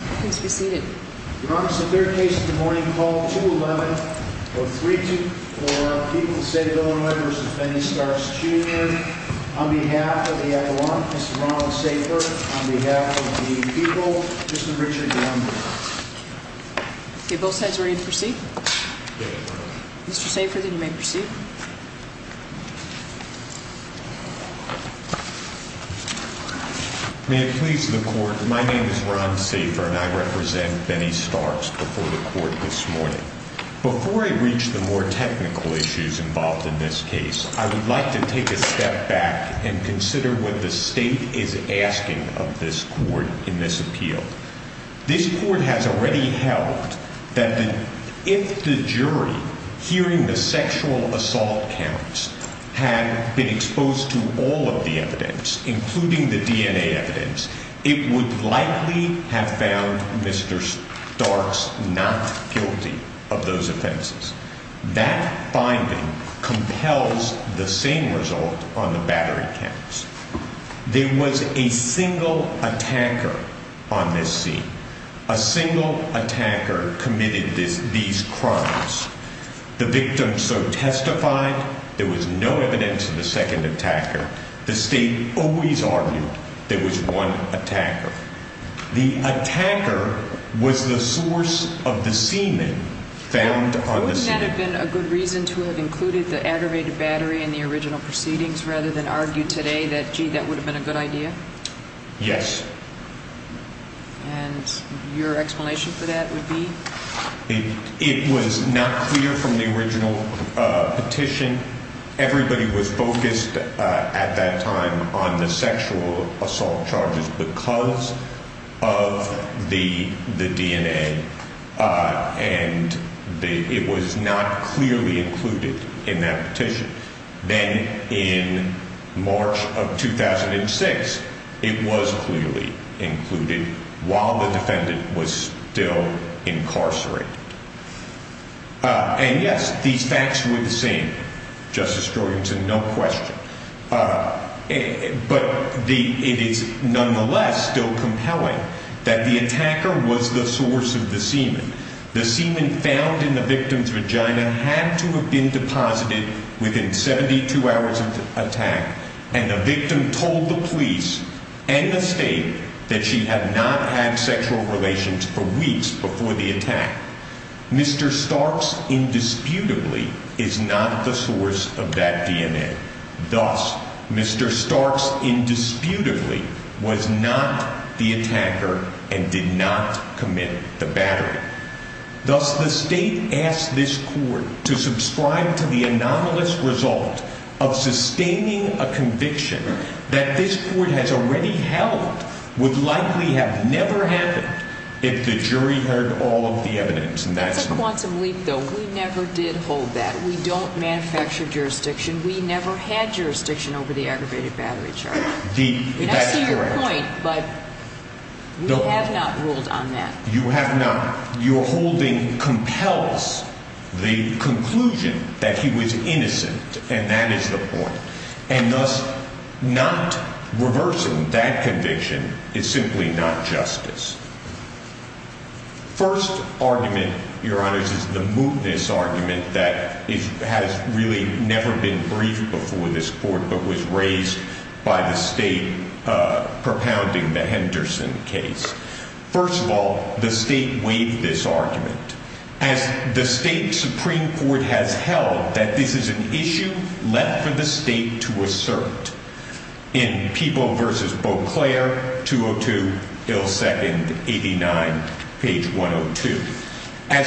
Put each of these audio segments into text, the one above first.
v. Illinois v. Penny Starks Jr., on behalf of the Iowan, Mr. Ron Safer, on behalf of the people, Mr. Richard Downing. Okay, both sides ready to proceed? Mr. Safer, then you may proceed. May it please the Court, my name is Ron Safer and I represent Penny Starks before the Court this morning. Before I reach the more technical issues involved in this case, I would like to take a step back and consider what the State is asking of this Court in this appeal. This Court has already held that if the jury, hearing the sexual assault counts, had been exposed to all of the evidence, including the DNA evidence, it would likely have found Mr. Starks not guilty of those offenses. That finding compels the same result on the battery counts. There was a single attacker on this scene. A single attacker committed these crimes. The victim so testified there was no evidence of the second attacker. The State always argued there was one attacker. The attacker was the source of the semen found on the scene. Wouldn't that have been a good reason to have included the aggravated battery in the original proceedings rather than argue today that, gee, that would have been a good idea? Yes. And your explanation for that would be? It was not clear from the original petition. Everybody was focused at that time on the sexual assault charges because of the DNA and it was not clearly included in that petition. Then in March of 2006, it was clearly included while the defendant was still incarcerated. And yes, these facts were the same, Justice Jorgensen, no question. But it is nonetheless still compelling that the attacker was the source of the semen. The semen found in the victim's vagina had to have been deposited within 72 hours of the attack and the victim told the police and the State that she had not had sexual relations for weeks before the attack. Mr. Starks indisputably is not the source of that DNA. Thus, Mr. Starks indisputably was not the attacker and did not commit the battery. Thus, the State asked this Court to subscribe to the anomalous result of sustaining a conviction that this Court has already held would likely have never happened if the jury heard all of the evidence. That's a quantum leap, though. We never did hold that. We don't manufacture jurisdiction. We never had jurisdiction over the aggravated battery charge. That's correct. I see your point, but we have not ruled on that. You have not. Your holding compels the conclusion that he was innocent, and that is the point. And thus, not reversing that conviction is simply not justice. First argument, Your Honors, is the mootness argument that has really never been briefed before this Court but was raised by the State propounding the Henderson case. First of all, the State waived this argument as the State Supreme Court has held that this is an issue left for the State to assert. As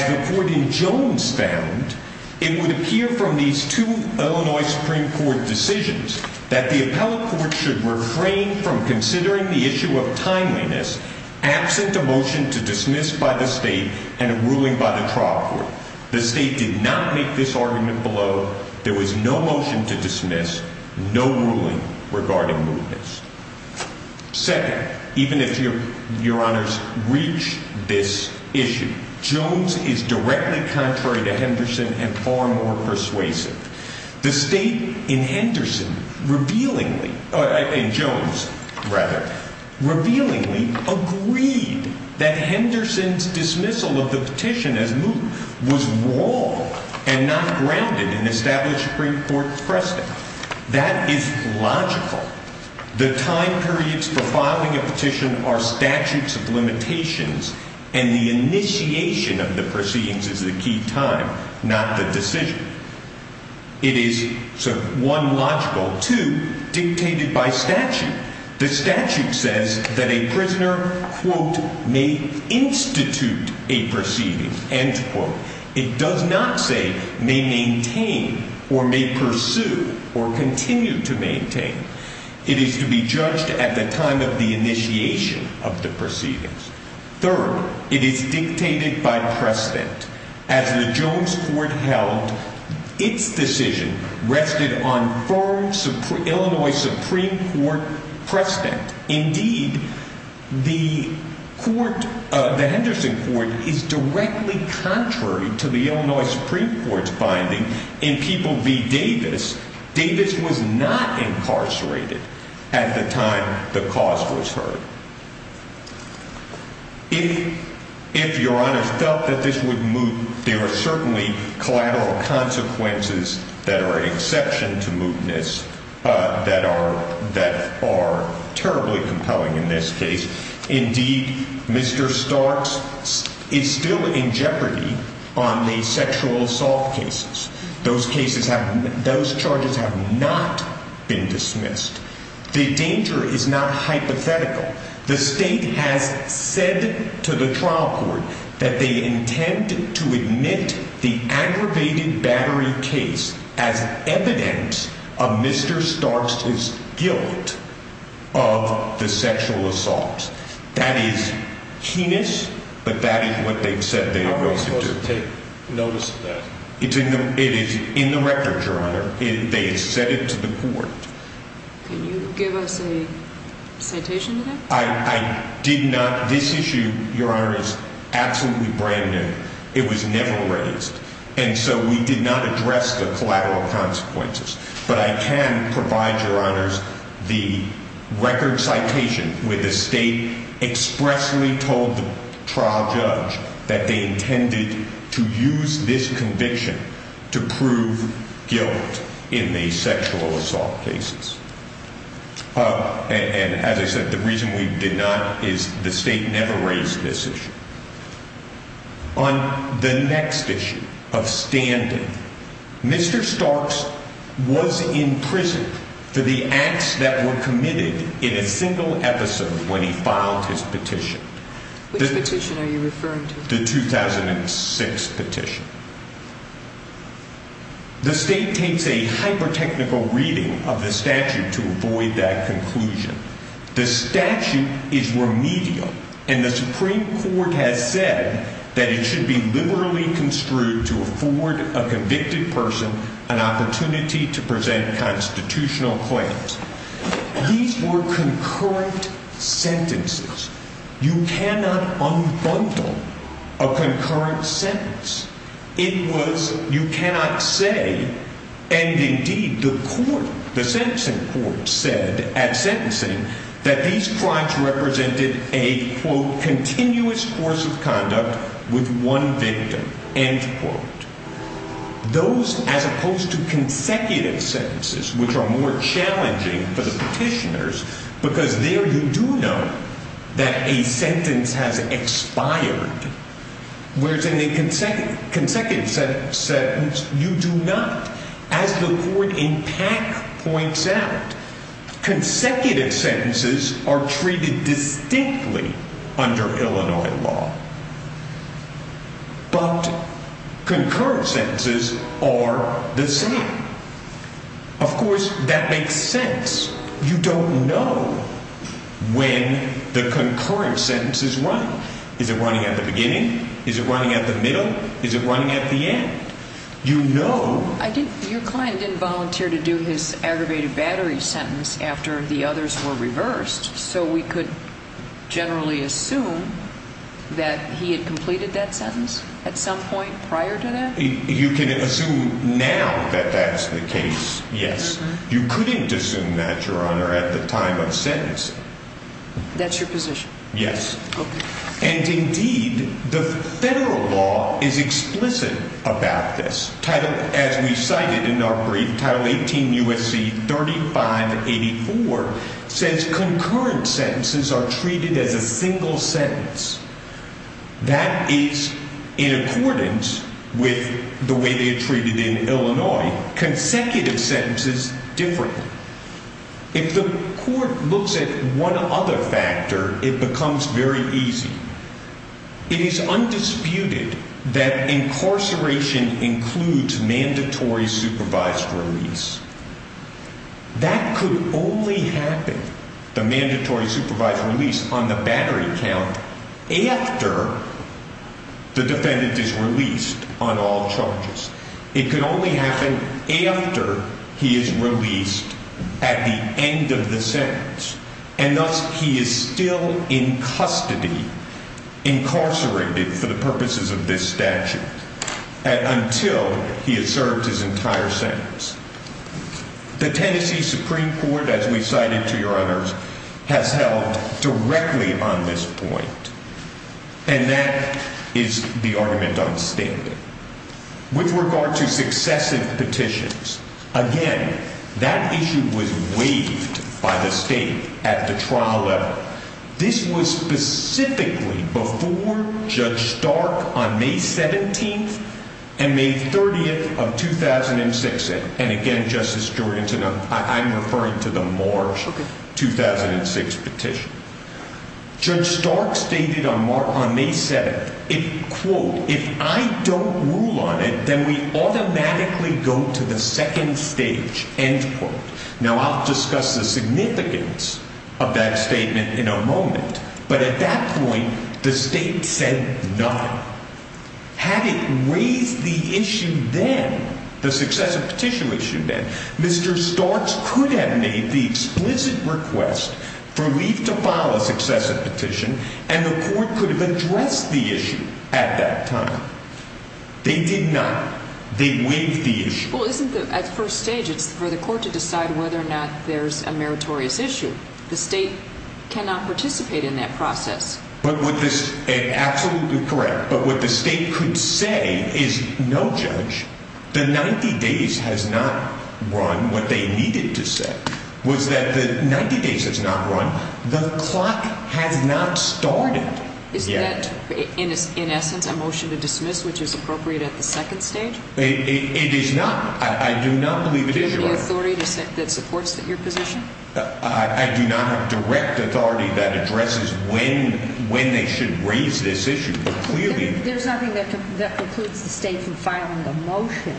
the Court in Jones found, it would appear from these two Illinois Supreme Court decisions that the appellate court should refrain from considering the issue of timeliness absent a motion to dismiss by the State and a ruling by the trial court. The State did not make this argument below. There was no motion to dismiss, no ruling regarding mootness. Second, even if Your Honors reach this issue, Jones is directly contrary to Henderson and far more persuasive. The State in Jones, revealingly, agreed that Henderson's dismissal of the petition as moot was wrong and not grounded in established Supreme Court precedent. That is logical. The time periods for filing a petition are statutes of limitations, and the initiation of the proceedings is the key time, not the decision. It is, one, logical. Two, dictated by statute. The statute says that a prisoner, quote, may institute a proceedings, end quote. It does not say may maintain or may pursue or continue to maintain. It is to be judged at the time of the initiation of the proceedings. Third, it is dictated by precedent. As the Jones Court held, its decision rested on firm Illinois Supreme Court precedent. Indeed, the court, the Henderson Court, is directly contrary to the Illinois Supreme Court's finding in People v. Davis. Davis was not incarcerated at the time the cause was heard. If Your Honors felt that this would moot, there are certainly collateral consequences that are exception to mootness that are terribly compelling in this case. Indeed, Mr. Starks is still in jeopardy on the sexual assault cases. Those cases have, those charges have not been dismissed. The danger is not hypothetical. The state has said to the trial court that they intend to admit the aggravated battery case as evidence of Mr. Starks' guilt of the sexual assault. That is heinous, but that is what they've said they are going to do. How are we supposed to take notice of that? It is in the record, Your Honor. They have said it to the court. Can you give us a citation to that? This issue, Your Honors, is absolutely brand new. It was never raised, and so we did not address the collateral consequences. But I can provide, Your Honors, the record citation where the state expressly told the trial judge that they intended to use this conviction to prove guilt in the sexual assault cases. And as I said, the reason we did not is the state never raised this issue. On the next issue of standing, Mr. Starks was imprisoned for the acts that were committed in a single episode when he filed his petition. Which petition are you referring to? The 2006 petition. The state takes a hyper-technical reading of the statute to avoid that conclusion. The statute is remedial, and the Supreme Court has said that it should be liberally construed to afford a convicted person an opportunity to present constitutional claims. These were concurrent sentences. You cannot unbundle a concurrent sentence. It was, you cannot say, and indeed the court, the sentencing court, said at sentencing that these crimes represented a, quote, continuous course of conduct with one victim, end quote. Those, as opposed to consecutive sentences, which are more challenging for the petitioners, because there you do know that a sentence has expired, whereas in a consecutive sentence, you do not. As the court in PAC points out, consecutive sentences are treated distinctly under Illinois law. But concurrent sentences are the same. Of course, that makes sense. You don't know when the concurrent sentence is running. Is it running at the beginning? Is it running at the middle? Is it running at the end? Your client didn't volunteer to do his aggravated battery sentence after the others were reversed, so we could generally assume that he had completed that sentence at some point prior to that? You can assume now that that's the case, yes. You couldn't assume that, Your Honor, at the time of sentencing. That's your position? Yes. And indeed, the federal law is explicit about this. Title, as we cited in our brief, Title 18 U.S.C. 3584, says concurrent sentences are treated as a single sentence. That is in accordance with the way they are treated in Illinois. Consecutive sentences, different. If the court looks at one other factor, it becomes very easy. It is undisputed that incarceration includes mandatory supervised release. That could only happen, the mandatory supervised release, on the battery count after the defendant is released on all charges. It could only happen after he is released at the end of the sentence. And thus, he is still in custody, incarcerated for the purposes of this statute, until he has served his entire sentence. The Tennessee Supreme Court, as we cited, to Your Honors, has held directly on this point. And that is the argument on standing. With regard to successive petitions, again, that issue was waived by the state at the trial level. This was specifically before Judge Stark on May 17th and May 30th of 2006. And again, Justice Jordan, I'm referring to the March 2006 petition. Judge Stark stated on May 7th, quote, if I don't rule on it, then we automatically go to the second stage, end quote. Now, I'll discuss the significance of that statement in a moment. But at that point, the state said none. Had it raised the issue then, the successive petition issue then, Mr. Starks could have made the explicit request for leave to file a successive petition, and the court could have addressed the issue at that time. They did not. They waived the issue. Well, isn't the, at first stage, it's for the court to decide whether or not there's a meritorious issue. The state cannot participate in that process. But with this, absolutely correct. But what the state could say is, no, Judge, the 90 days has not run. What they needed to say was that the 90 days has not run. The clock has not started yet. Is that, in essence, a motion to dismiss, which is appropriate at the second stage? It is not. I do not believe it is. Do you have any authority that supports your position? I do not have direct authority that addresses when they should raise this issue. Clearly. There's nothing that precludes the state from filing a motion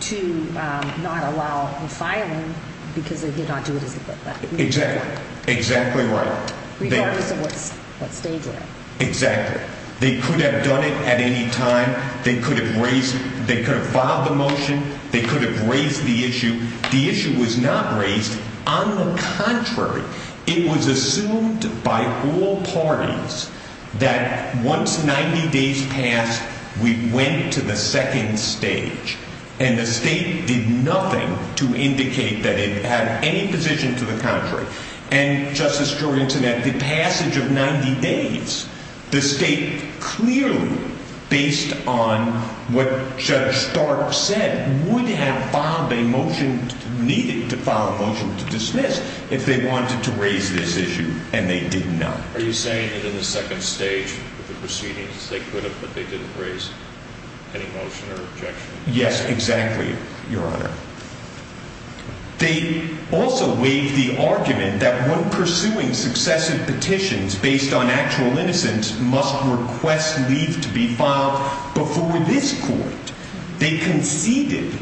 to not allow the filing, because they did not do it as a request. Exactly. Exactly right. Regardless of what stage we're in. Exactly. They could have done it at any time. They could have raised, they could have filed the motion. They could have raised the issue. The issue was not raised. On the contrary, it was assumed by all parties that once 90 days passed, we went to the second stage. And the state did nothing to indicate that it had any position to the contrary. And, Justice Jorinten, at the passage of 90 days, the state clearly, based on what Judge Stark said, would have filed a motion, needed to file a motion to dismiss, if they wanted to raise this issue. And they did not. Are you saying that in the second stage, the proceedings, they could have, but they didn't raise any motion or objection? Yes, exactly, Your Honor. They also waived the argument that when pursuing successive petitions based on actual innocence, must request leave to be filed before this court. They conceded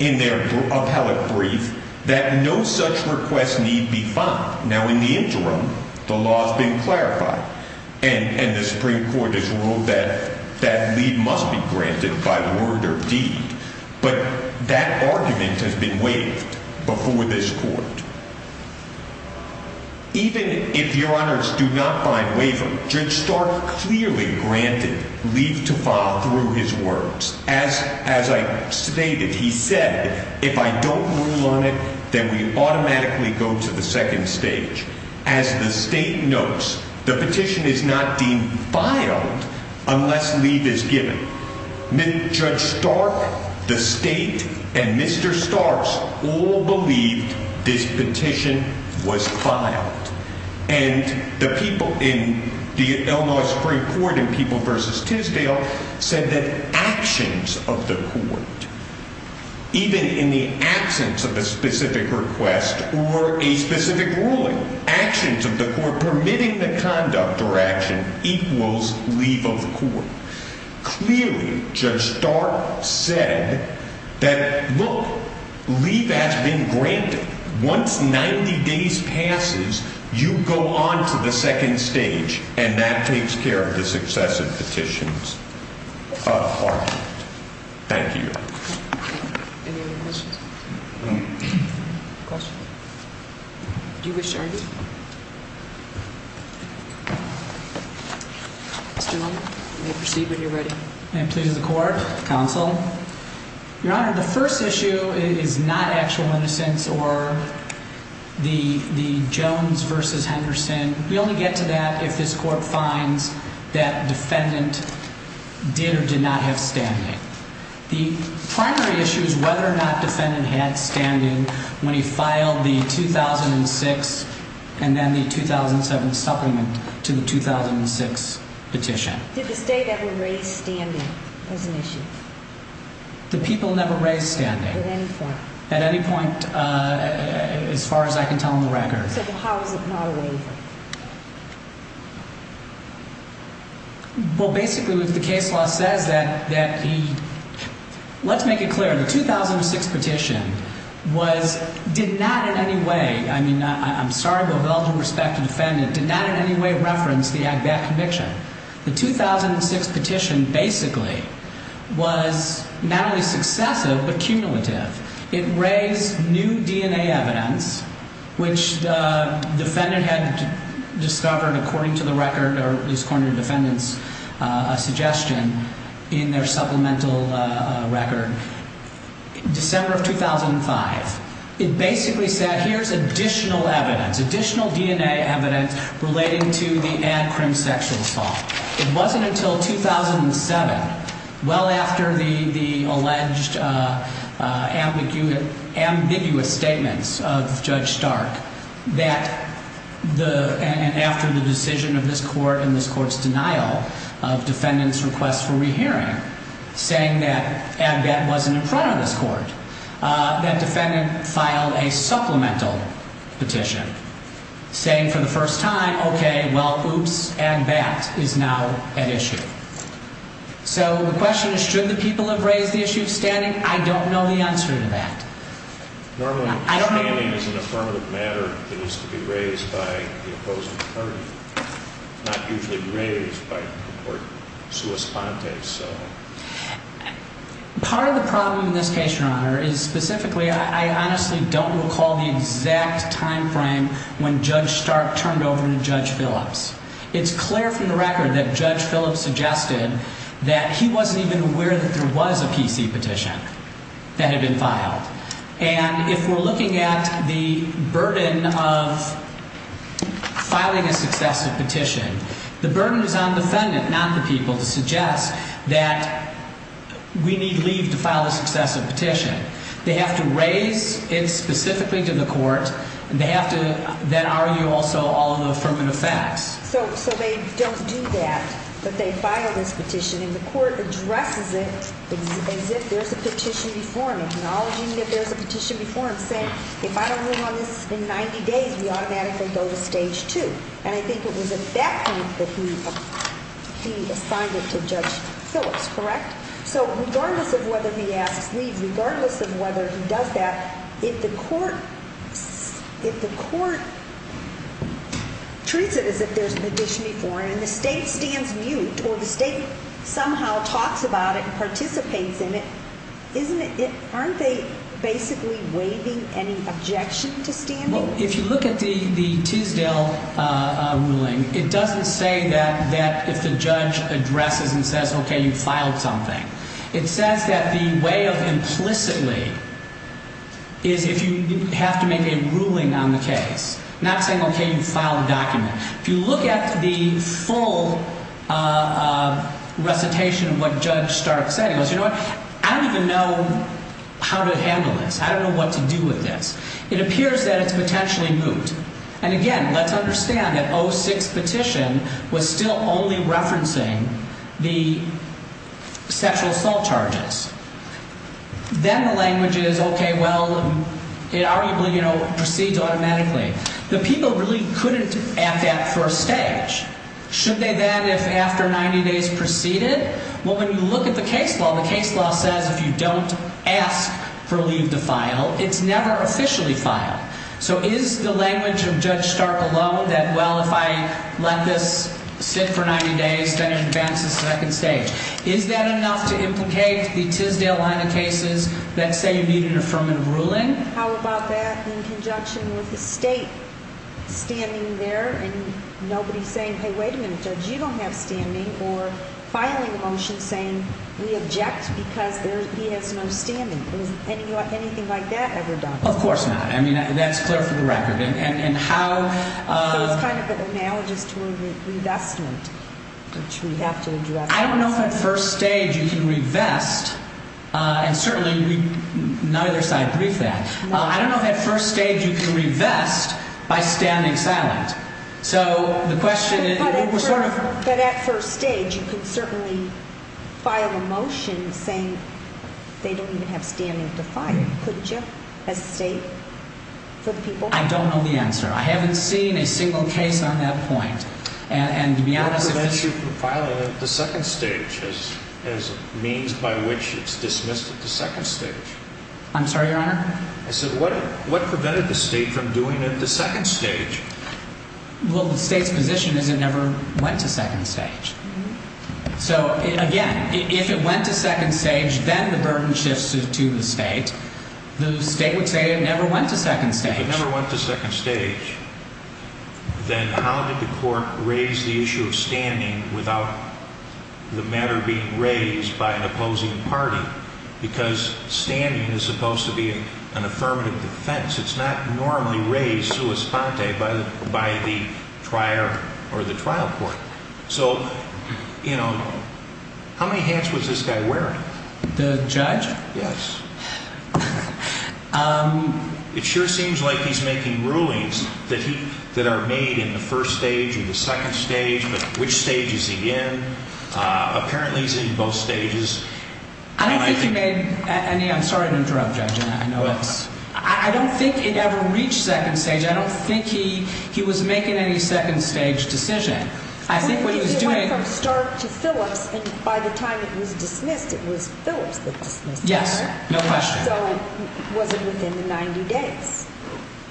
in their appellate brief that no such request need be filed. Now, in the interim, the law has been clarified. And the Supreme Court has ruled that that leave must be granted by word or deed. But that argument has been waived before this court. Even if, Your Honors, do not find waiver, Judge Stark clearly granted leave to file through his words. As I stated, he said, if I don't rule on it, then we automatically go to the second stage. As the state notes, the petition is not deemed filed unless leave is given. Judge Stark, the state, and Mr. Starks all believed this petition was filed. And the people in the Illinois Supreme Court in People v. Tisdale said that actions of the court, even in the absence of a specific request or a specific ruling, actions of the court permitting the conduct or action equals leave of the court. Clearly, Judge Stark said that, look, leave has been granted. Once 90 days passes, you go on to the second stage. And that takes care of the successive petitions of argument. Thank you. Any other questions? Questions? Do you wish to argue? Please. Mr. Newman, you may proceed when you're ready. May it please the court, counsel. Your Honor, the first issue is not actual innocence or the Jones v. Henderson. We only get to that if this court finds that defendant did or did not have standing. The primary issue is whether or not defendant had standing when he filed the 2006 and then the 2007 supplement to the 2006 petition. Did the state ever raise standing as an issue? The people never raised standing. At any point? At any point as far as I can tell on the record. So how is it not a waiver? Well, basically, the case law says that he, let's make it clear, the 2006 petition was, did not in any way, I mean, I'm sorry, but with all due respect to the defendant, did not in any way reference that conviction. The 2006 petition basically was not only successive but cumulative. It raised new DNA evidence, which the defendant had discovered, according to the record, or at least according to the defendant's suggestion in their supplemental record, December of 2005. It basically said, here's additional evidence, additional DNA evidence relating to the ad crim sexual assault. It wasn't until 2007, well after the alleged ambiguous statements of Judge Stark that the, and after the decision of this court and this court's denial of defendant's request for rehearing, saying that ADBAT wasn't in front of this court, that defendant filed a supplemental petition. Saying for the first time, OK, well, oops, ADBAT is now at issue. So the question is, should the people have raised the issue of standing? I don't know the answer to that. Normally, standing is an affirmative matter that needs to be raised by the opposing party. It's not usually raised by the court sua sponte, so. Part of the problem in this case, Your Honor, is specifically, I honestly don't recall the exact time frame when Judge Stark turned over to Judge Phillips. It's clear from the record that Judge Phillips suggested that he wasn't even aware that there was a PC petition that had been filed. And if we're looking at the burden of filing a successive petition, the burden is on the defendant, not the people, to suggest that we need leave to file a successive petition. They have to raise it specifically to the court, and they have to then argue also all of the affirmative facts. So they don't do that, but they file this petition, and the court addresses it as if there's a petition before him. Acknowledging that there's a petition before him, saying, if I don't move on this in 90 days, we automatically go to stage two. And I think it was at that point that he assigned it to Judge Phillips, correct? So regardless of whether he asks leave, regardless of whether he does that, if the court treats it as if there's a petition before him and the state stands mute or the state somehow talks about it and participates in it, aren't they basically waiving any objection to standing? Well, if you look at the Tisdale ruling, it doesn't say that if the judge addresses and says, OK, you filed something. It says that the way of implicitly is if you have to make a ruling on the case, not saying, OK, you filed a document. If you look at the full recitation of what Judge Stark said, he goes, you know what, I don't even know how to handle this. I don't know what to do with this. It appears that it's potentially moot. And again, let's understand that 06 petition was still only referencing the sexual assault charges. Then the language is, OK, well, it arguably proceeds automatically. The people really couldn't at that first stage. Should they then, if after 90 days, proceed it? Well, when you look at the case law, the case law says if you don't ask for leave to file, it's never officially filed. So is the language of Judge Stark alone that, well, if I let this sit for 90 days, then it advances to the second stage? Is that enough to implicate the Tisdale line of cases that say you need an affirmative ruling? How about that in conjunction with the state standing there and nobody saying, hey, wait a minute, Judge, you don't have standing, or filing a motion saying we object because he has no standing? Has anything like that ever done? Of course not. I mean, that's clear for the record. And how. So it's kind of an analogous to a revestment, which we have to address. I don't know if at first stage you can revest, and certainly neither side briefed that. I don't know if at first stage you can revest by standing silent. But at first stage, you could certainly file a motion saying they don't even have standing to file. Couldn't you, as a state, for the people? I don't know the answer. I haven't seen a single case on that point. What prevents you from filing it at the second stage as a means by which it's dismissed at the second stage? I'm sorry, Your Honor? I said, what prevented the state from doing it at the second stage? Well, the state's position is it never went to second stage. So, again, if it went to second stage, then the burden shifts to the state. The state would say it never went to second stage. If it never went to second stage, then how did the court raise the issue of standing without the matter being raised by an opposing party? Because standing is supposed to be an affirmative defense. It's not normally raised sua sponte by the trier or the trial court. So, you know, how many hats was this guy wearing? The judge? Yes. It sure seems like he's making rulings that are made in the first stage or the second stage. But which stage is he in? Apparently, he's in both stages. I don't think he made any. I'm sorry to interrupt, Judge. I know it's. I don't think it ever reached second stage. I don't think he was making any second stage decision. I think what he was doing. It went from Stark to Phillips. And by the time it was dismissed, it was Phillips that dismissed it. Yes. No question. So, was it within the 90 days?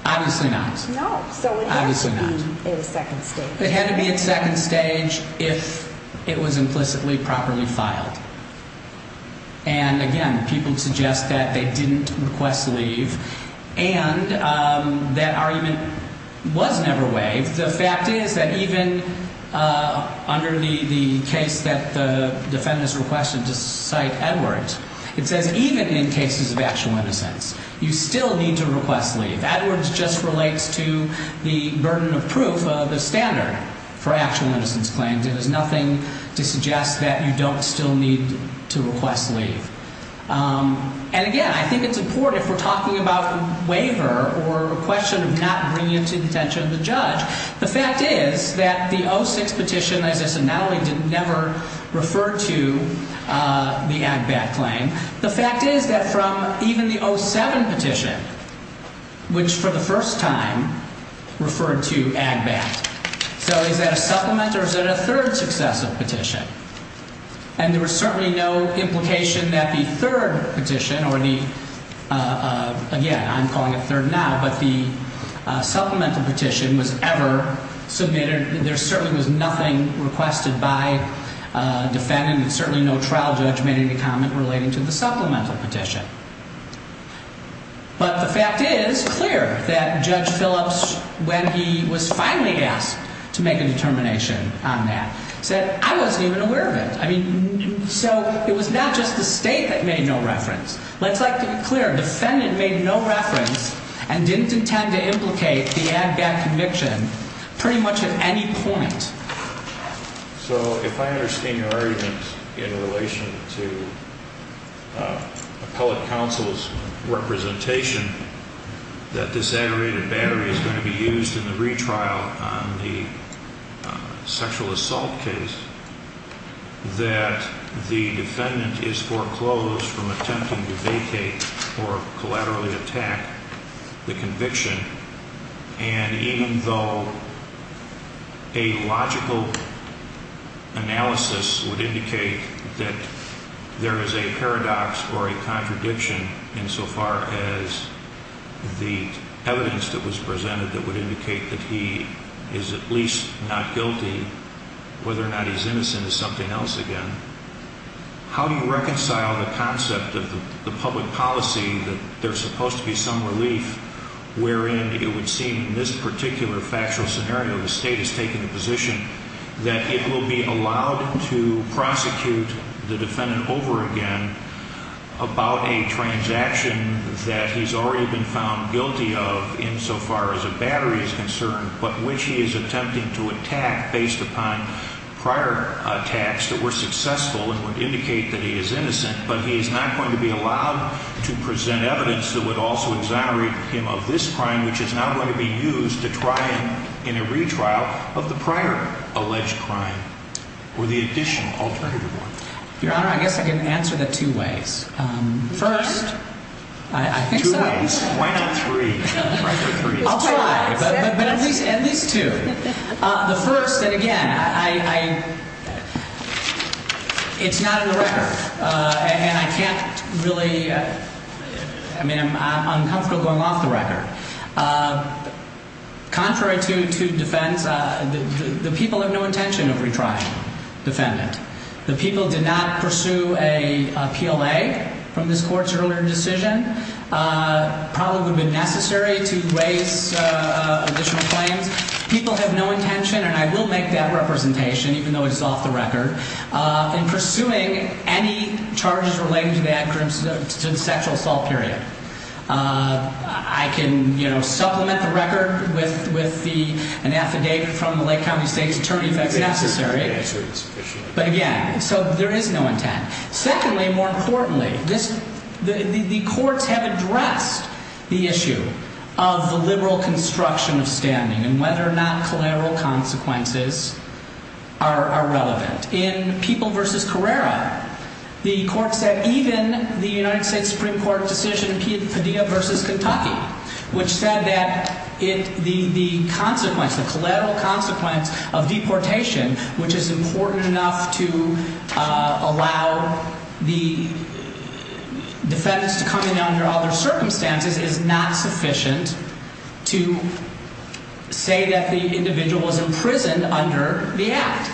Obviously not. No. So, it had to be in second stage. It had to be in second stage if it was implicitly properly filed. And, again, people suggest that they didn't request leave. And that argument was never waived. The fact is that even under the case that the defendants requested to cite Edwards, it says even in cases of actual innocence, you still need to request leave. Edwards just relates to the burden of proof of the standard for actual innocence claims. It has nothing to suggest that you don't still need to request leave. And, again, I think it's important if we're talking about waiver or a question of not bringing it to the attention of the judge. The fact is that the 06 petition, as I said, not only did it never refer to the Agbat claim. The fact is that from even the 07 petition, which for the first time referred to Agbat. So, is that a supplement or is that a third successive petition? And there was certainly no implication that the third petition or the, again, I'm calling it third now, but the supplemental petition was ever submitted. There certainly was nothing requested by defendants. Certainly no trial judge made any comment relating to the supplemental petition. But the fact is clear that Judge Phillips, when he was finally asked to make a determination on that, said, I wasn't even aware of it. I mean, so it was not just the state that made no reference. Let's make it clear. A defendant made no reference and didn't intend to implicate the Agbat conviction pretty much at any point. So, if I understand your argument in relation to appellate counsel's representation, that this aggravated battery is going to be used in the retrial on the sexual assault case, that the defendant is foreclosed from attempting to vacate or collaterally attack the conviction, and even though a logical analysis would indicate that there is a paradox or a contradiction insofar as the evidence that was presented that would indicate that he is at least not guilty, whether or not he's innocent is something else again, how do you reconcile the concept of the public policy that there's supposed to be some relief wherein it would seem in this particular factual scenario the state has taken the position that it will be allowed to prosecute the defendant over again about a transaction that he's already been found guilty of insofar as a battery is concerned, but which he is attempting to attack based upon prior attacks that were successful and would indicate that he is innocent, but he is not going to be allowed to present evidence that would also exonerate him of this crime, which is now going to be used to try him in a retrial of the prior alleged crime or the addition, alternative one? Your Honor, I guess I can answer that two ways. First, I think so. Two ways? Why not three? I'll try, but at least two. The first, and again, it's not in the record, and I can't really, I mean, I'm uncomfortable going off the record. Contrary to defense, the people have no intention of retrying the defendant. The people did not pursue a PLA from this Court's earlier decision. It probably would have been necessary to raise additional claims. People have no intention, and I will make that representation even though it is off the record, in pursuing any charges related to the sexual assault period. I can supplement the record with an affidavit from the Lake County State's attorney if that's necessary. But again, so there is no intent. Secondly, more importantly, the courts have addressed the issue of the liberal construction of standing and whether or not collateral consequences are relevant. In People v. Carrera, the court said even the United States Supreme Court decision, Padilla v. Kentucky, which said that the consequence, the collateral consequence of deportation, which is important enough to allow the defendants to come in under other circumstances, is not sufficient to say that the individual is imprisoned under the Act.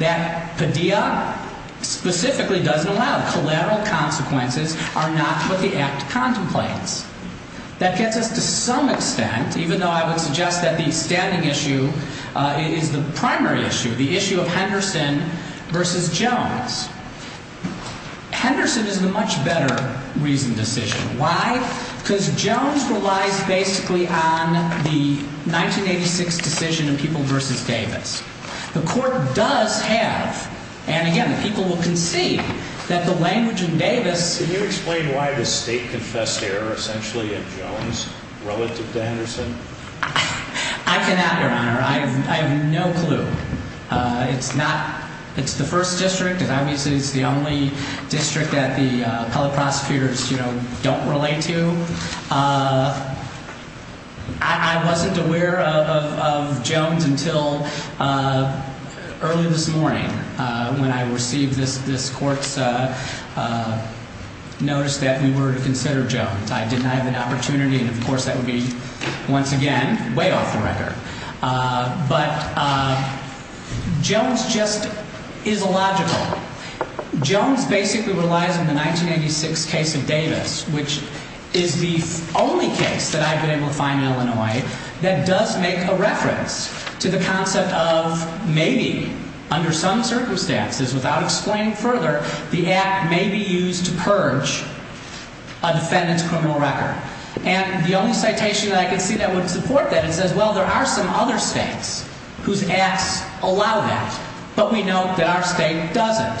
That Padilla specifically doesn't allow collateral consequences are not what the Act contemplates. That gets us to some extent, even though I would suggest that the standing issue is the primary issue, the issue of Henderson v. Jones. Henderson is the much better reasoned decision. Why? Because Jones relies basically on the 1986 decision in People v. Davis. The Court does have, and again, the people will concede, that the language in Davis Can you explain why the state confessed error essentially at Jones relative to Henderson? I can add, Your Honor, I have no clue. It's not, it's the first district and obviously it's the only district that the appellate prosecutors, you know, don't relate to. I wasn't aware of Jones until early this morning when I received this Court's notice that we were to consider Jones. I did not have an opportunity, and of course that would be, once again, way off the record. But Jones just is illogical. Jones basically relies on the 1986 case of Davis, which is the only case that I've been able to find in Illinois that does make a reference to the concept of maybe, under some circumstances, without explaining further, the Act may be used to purge a defendant's criminal record. And the only citation that I could see that would support that is, well, there are some other states whose Acts allow that. But we know that our state doesn't.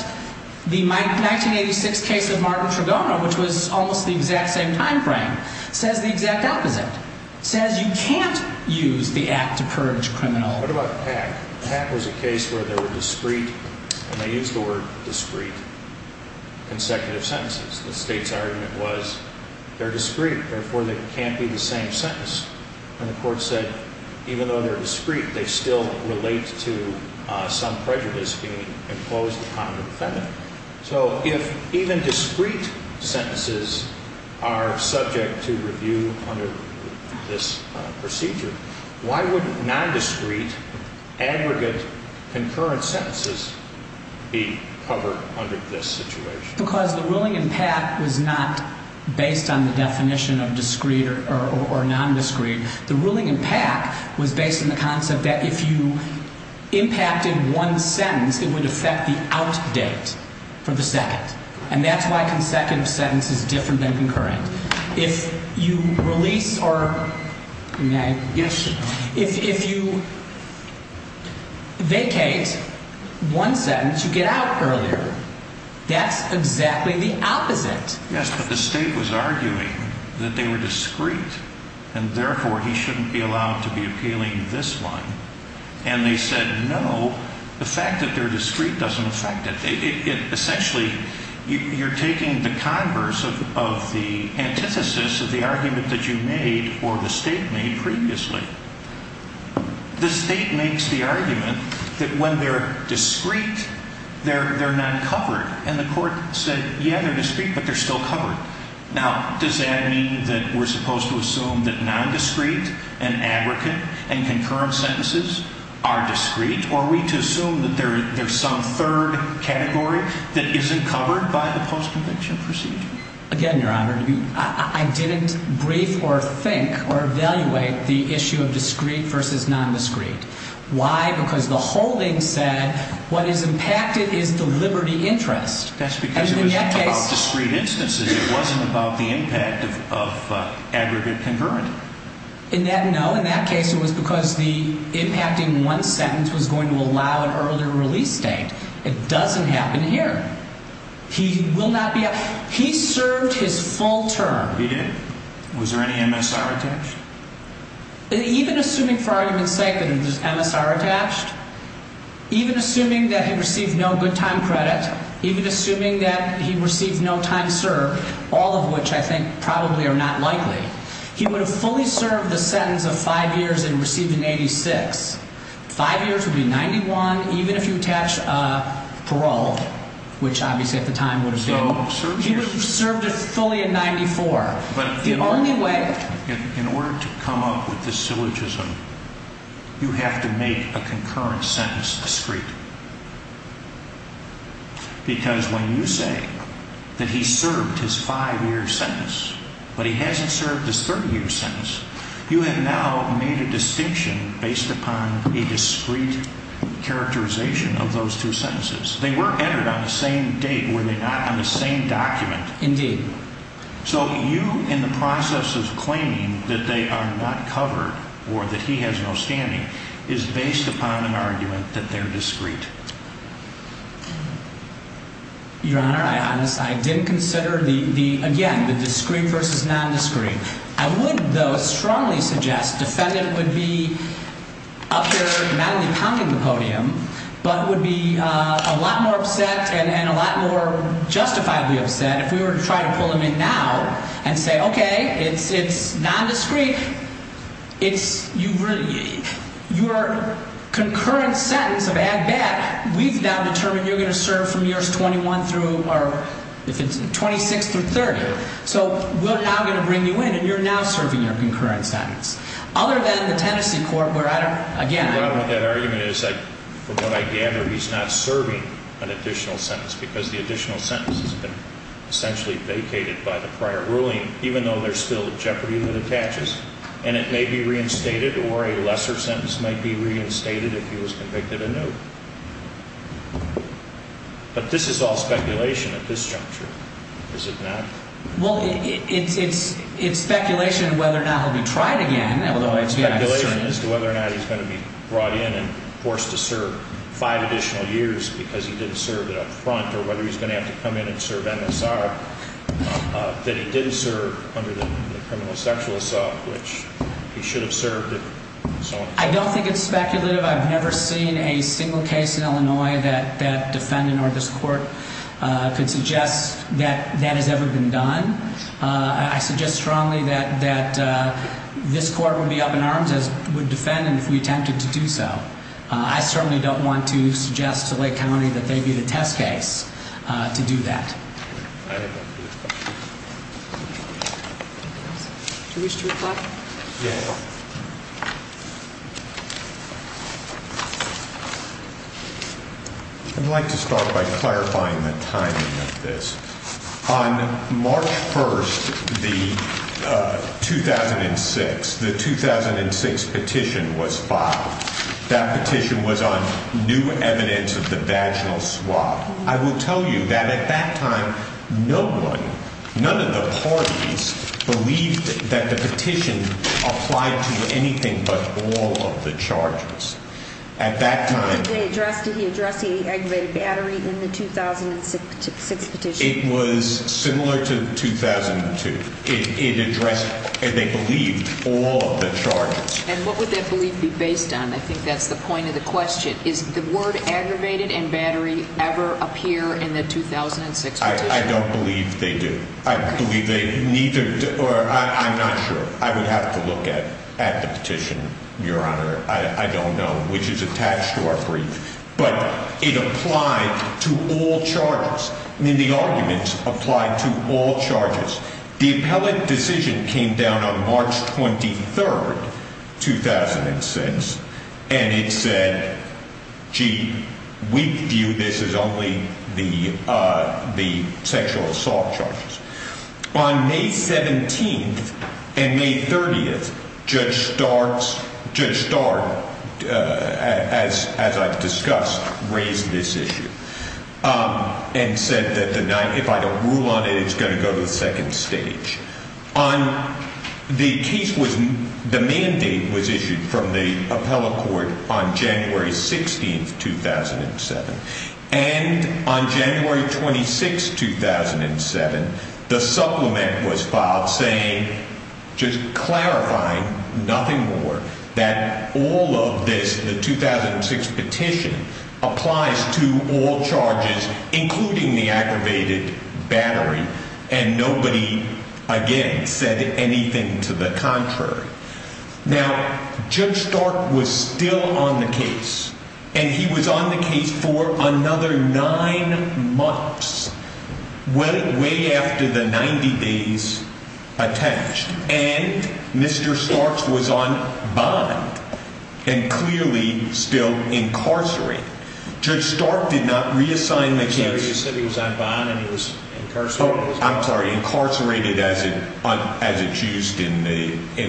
The 1986 case of Martin Tregona, which was almost the exact same time frame, says the exact opposite. It says you can't use the Act to purge a criminal. What about Pack? Pack was a case where they were discreet, and they used the word discreet, consecutive sentences. The state's argument was, they're discreet, therefore they can't be the same sentence. And the court said, even though they're discreet, they still relate to some prejudice being imposed upon the defendant. So if even discreet sentences are subject to review under this procedure, why would nondiscreet, aggregate, concurrent sentences be covered under this situation? Because the ruling in Pack was not based on the definition of discreet or nondiscreet. The ruling in Pack was based on the concept that if you impacted one sentence, it would affect the out date for the second. And that's why consecutive sentence is different than concurrent. If you release or, if you vacate one sentence, you get out earlier. That's exactly the opposite. Yes, but the state was arguing that they were discreet, and therefore he shouldn't be allowed to be appealing this one. And they said, no, the fact that they're discreet doesn't affect it. Essentially, you're taking the converse of the antithesis of the argument that you made or the state made previously. The state makes the argument that when they're discreet, they're not covered. And the court said, yeah, they're discreet, but they're still covered. Now, does that mean that we're supposed to assume that nondiscreet and aggregate and concurrent sentences are discreet? Or are we to assume that there's some third category that isn't covered by the post-conviction procedure? Again, Your Honor, I didn't brief or think or evaluate the issue of discreet versus nondiscreet. Why? Because the holding said what is impacted is the liberty interest. That's because it was about discreet instances. It wasn't about the impact of aggregate concurrent. In that, no, in that case, it was because the impacting one sentence was going to allow an earlier release date. It doesn't happen here. He will not be – he served his full term. He did? Was there any MSR attached? Even assuming for argument's sake that there's MSR attached, even assuming that he received no good time credit, even assuming that he received no time served, all of which I think probably are not likely, he would have fully served the sentence of five years and received an 86. Five years would be 91, even if you attach parole, which obviously at the time would have been – So he served it fully in 94. But the only way – In order to come up with this syllogism, you have to make a concurrent sentence discreet. Because when you say that he served his five-year sentence but he hasn't served his 30-year sentence, you have now made a distinction based upon a discreet characterization of those two sentences. They were entered on the same date, were they not, on the same document. Indeed. So you, in the process of claiming that they are not covered or that he has no standing, is based upon an argument that they're discreet. Your Honor, I didn't consider the – again, the discreet versus non-discreet. I would, though, strongly suggest defendant would be up there not only pounding the podium, but would be a lot more upset and a lot more justifiably upset if we were to try to pull him in now and say, okay, it's non-discreet, it's – you really – your concurrent sentence of ag bat, we've now determined you're going to serve from years 21 through – or if it's 26 through 30. So we're now going to bring you in and you're now serving your concurrent sentence. Other than the Tennessee court where I don't – again – The problem with that argument is, from what I gather, he's not serving an additional sentence because the additional sentence has been essentially vacated by the prior ruling, even though there's still the jeopardy that attaches, and it may be reinstated or a lesser sentence might be reinstated if he was convicted anew. But this is all speculation at this juncture, is it not? Well, it's speculation whether or not he'll be tried again. Although it's speculation as to whether or not he's going to be brought in and forced to serve five additional years because he didn't serve it up front or whether he's going to have to come in and serve MSR that he didn't serve under the criminal sexual assault, which he should have served if – I don't think it's speculative. I've never seen a single case in Illinois that that defendant or this court could suggest that that has ever been done. I suggest strongly that this court would be up in arms as would defendant if we attempted to do so. I certainly don't want to suggest to Lake County that they be the test case to do that. Do you wish to reply? Yes. I'd like to start by clarifying the timing of this. On March 1st, 2006, the 2006 petition was filed. That petition was on new evidence of the vaginal swab. I will tell you that at that time, no one, none of the parties believed that the petition applied to anything but all of the charges. At that time – Did he address the aggravated battery in the 2006 petition? It was similar to 2002. It addressed – and they believed all of the charges. And what would that belief be based on? I think that's the point of the question. Does the word aggravated and battery ever appear in the 2006 petition? I don't believe they do. I believe they neither – or I'm not sure. I would have to look at the petition, Your Honor. I don't know which is attached to our brief. But it applied to all charges. I mean, the arguments applied to all charges. The appellate decision came down on March 23rd, 2006, and it said, gee, we view this as only the sexual assault charges. On May 17th and May 30th, Judge Starr, as I've discussed, raised this issue. And said that if I don't rule on it, it's going to go to the second stage. The case was – the mandate was issued from the appellate court on January 16th, 2007. And on January 26th, 2007, the supplement was filed saying – just clarifying, nothing more – that all of this, the 2006 petition, applies to all charges, including the aggravated battery. And nobody, again, said anything to the contrary. Now, Judge Starr was still on the case. And he was on the case for another nine months, way after the 90 days attached. And Mr. Starr was on bond and clearly still incarcerated. Judge Starr did not reassign the case. You said he was on bond and he was incarcerated? Oh, I'm sorry. Incarcerated as it's used in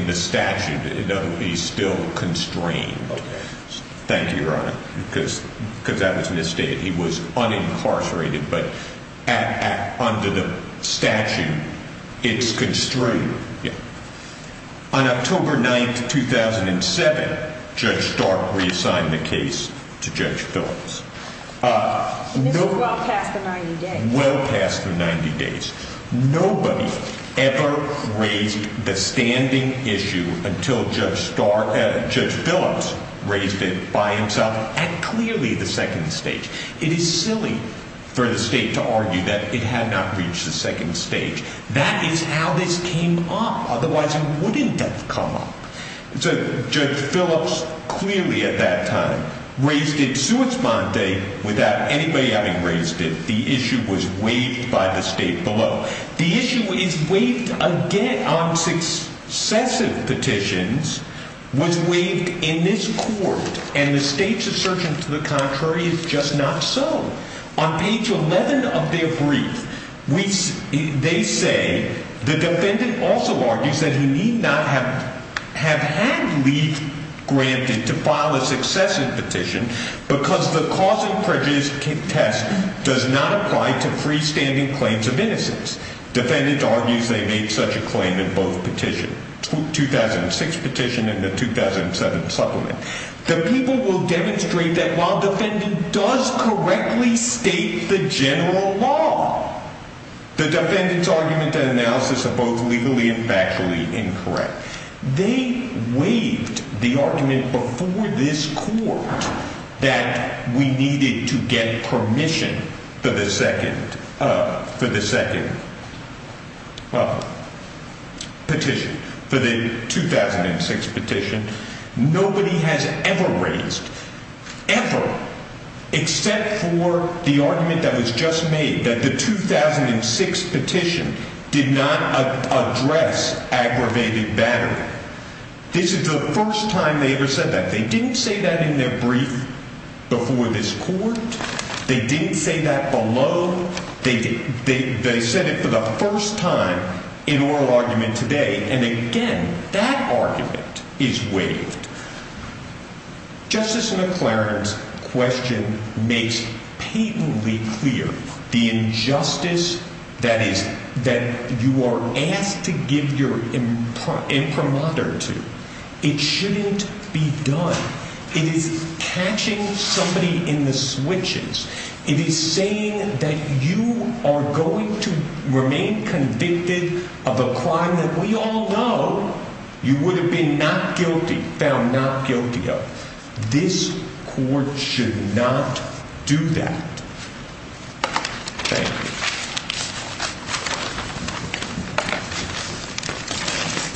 the statute, though he's still constrained. Thank you, Your Honor, because that was misstated. He was unincarcerated, but under the statute, it's constrained. Yeah. On October 9th, 2007, Judge Starr reassigned the case to Judge Phillips. And this was well past the 90 days? Well past the 90 days. Nobody ever raised the standing issue until Judge Phillips raised it by himself at clearly the second stage. It is silly for the state to argue that it had not reached the second stage. That is how this came up. Otherwise, it wouldn't have come up. Judge Phillips clearly at that time raised it sui exponde without anybody having raised it. The issue was waived by the state below. The issue is waived again on successive petitions was waived in this court. And the state's assertion to the contrary is just not so. On page 11 of their brief, they say the defendant also argues that he need not have had leave granted to file a successive petition because the cause and prejudice test does not apply to freestanding claims of innocence. Defendant argues they made such a claim in both petition, 2006 petition and the 2007 supplement. The people will demonstrate that while defendant does correctly state the general law, the defendant's argument and analysis are both legally and factually incorrect. They waived the argument before this court that we needed to get permission for the second petition, for the 2006 petition. Nobody has ever raised, ever, except for the argument that was just made that the 2006 petition did not address aggravated battery. This is the first time they ever said that. They didn't say that in their brief before this court. They didn't say that below. They said it for the first time in oral argument today. And again, that argument is waived. Justice McLaren's question makes patently clear the injustice that you are asked to give your imprimatur to. It shouldn't be done. It is catching somebody in the switches. It is saying that you are going to remain convicted of a crime that we all know you would have been not guilty, found not guilty of. This court should not do that. Thank you.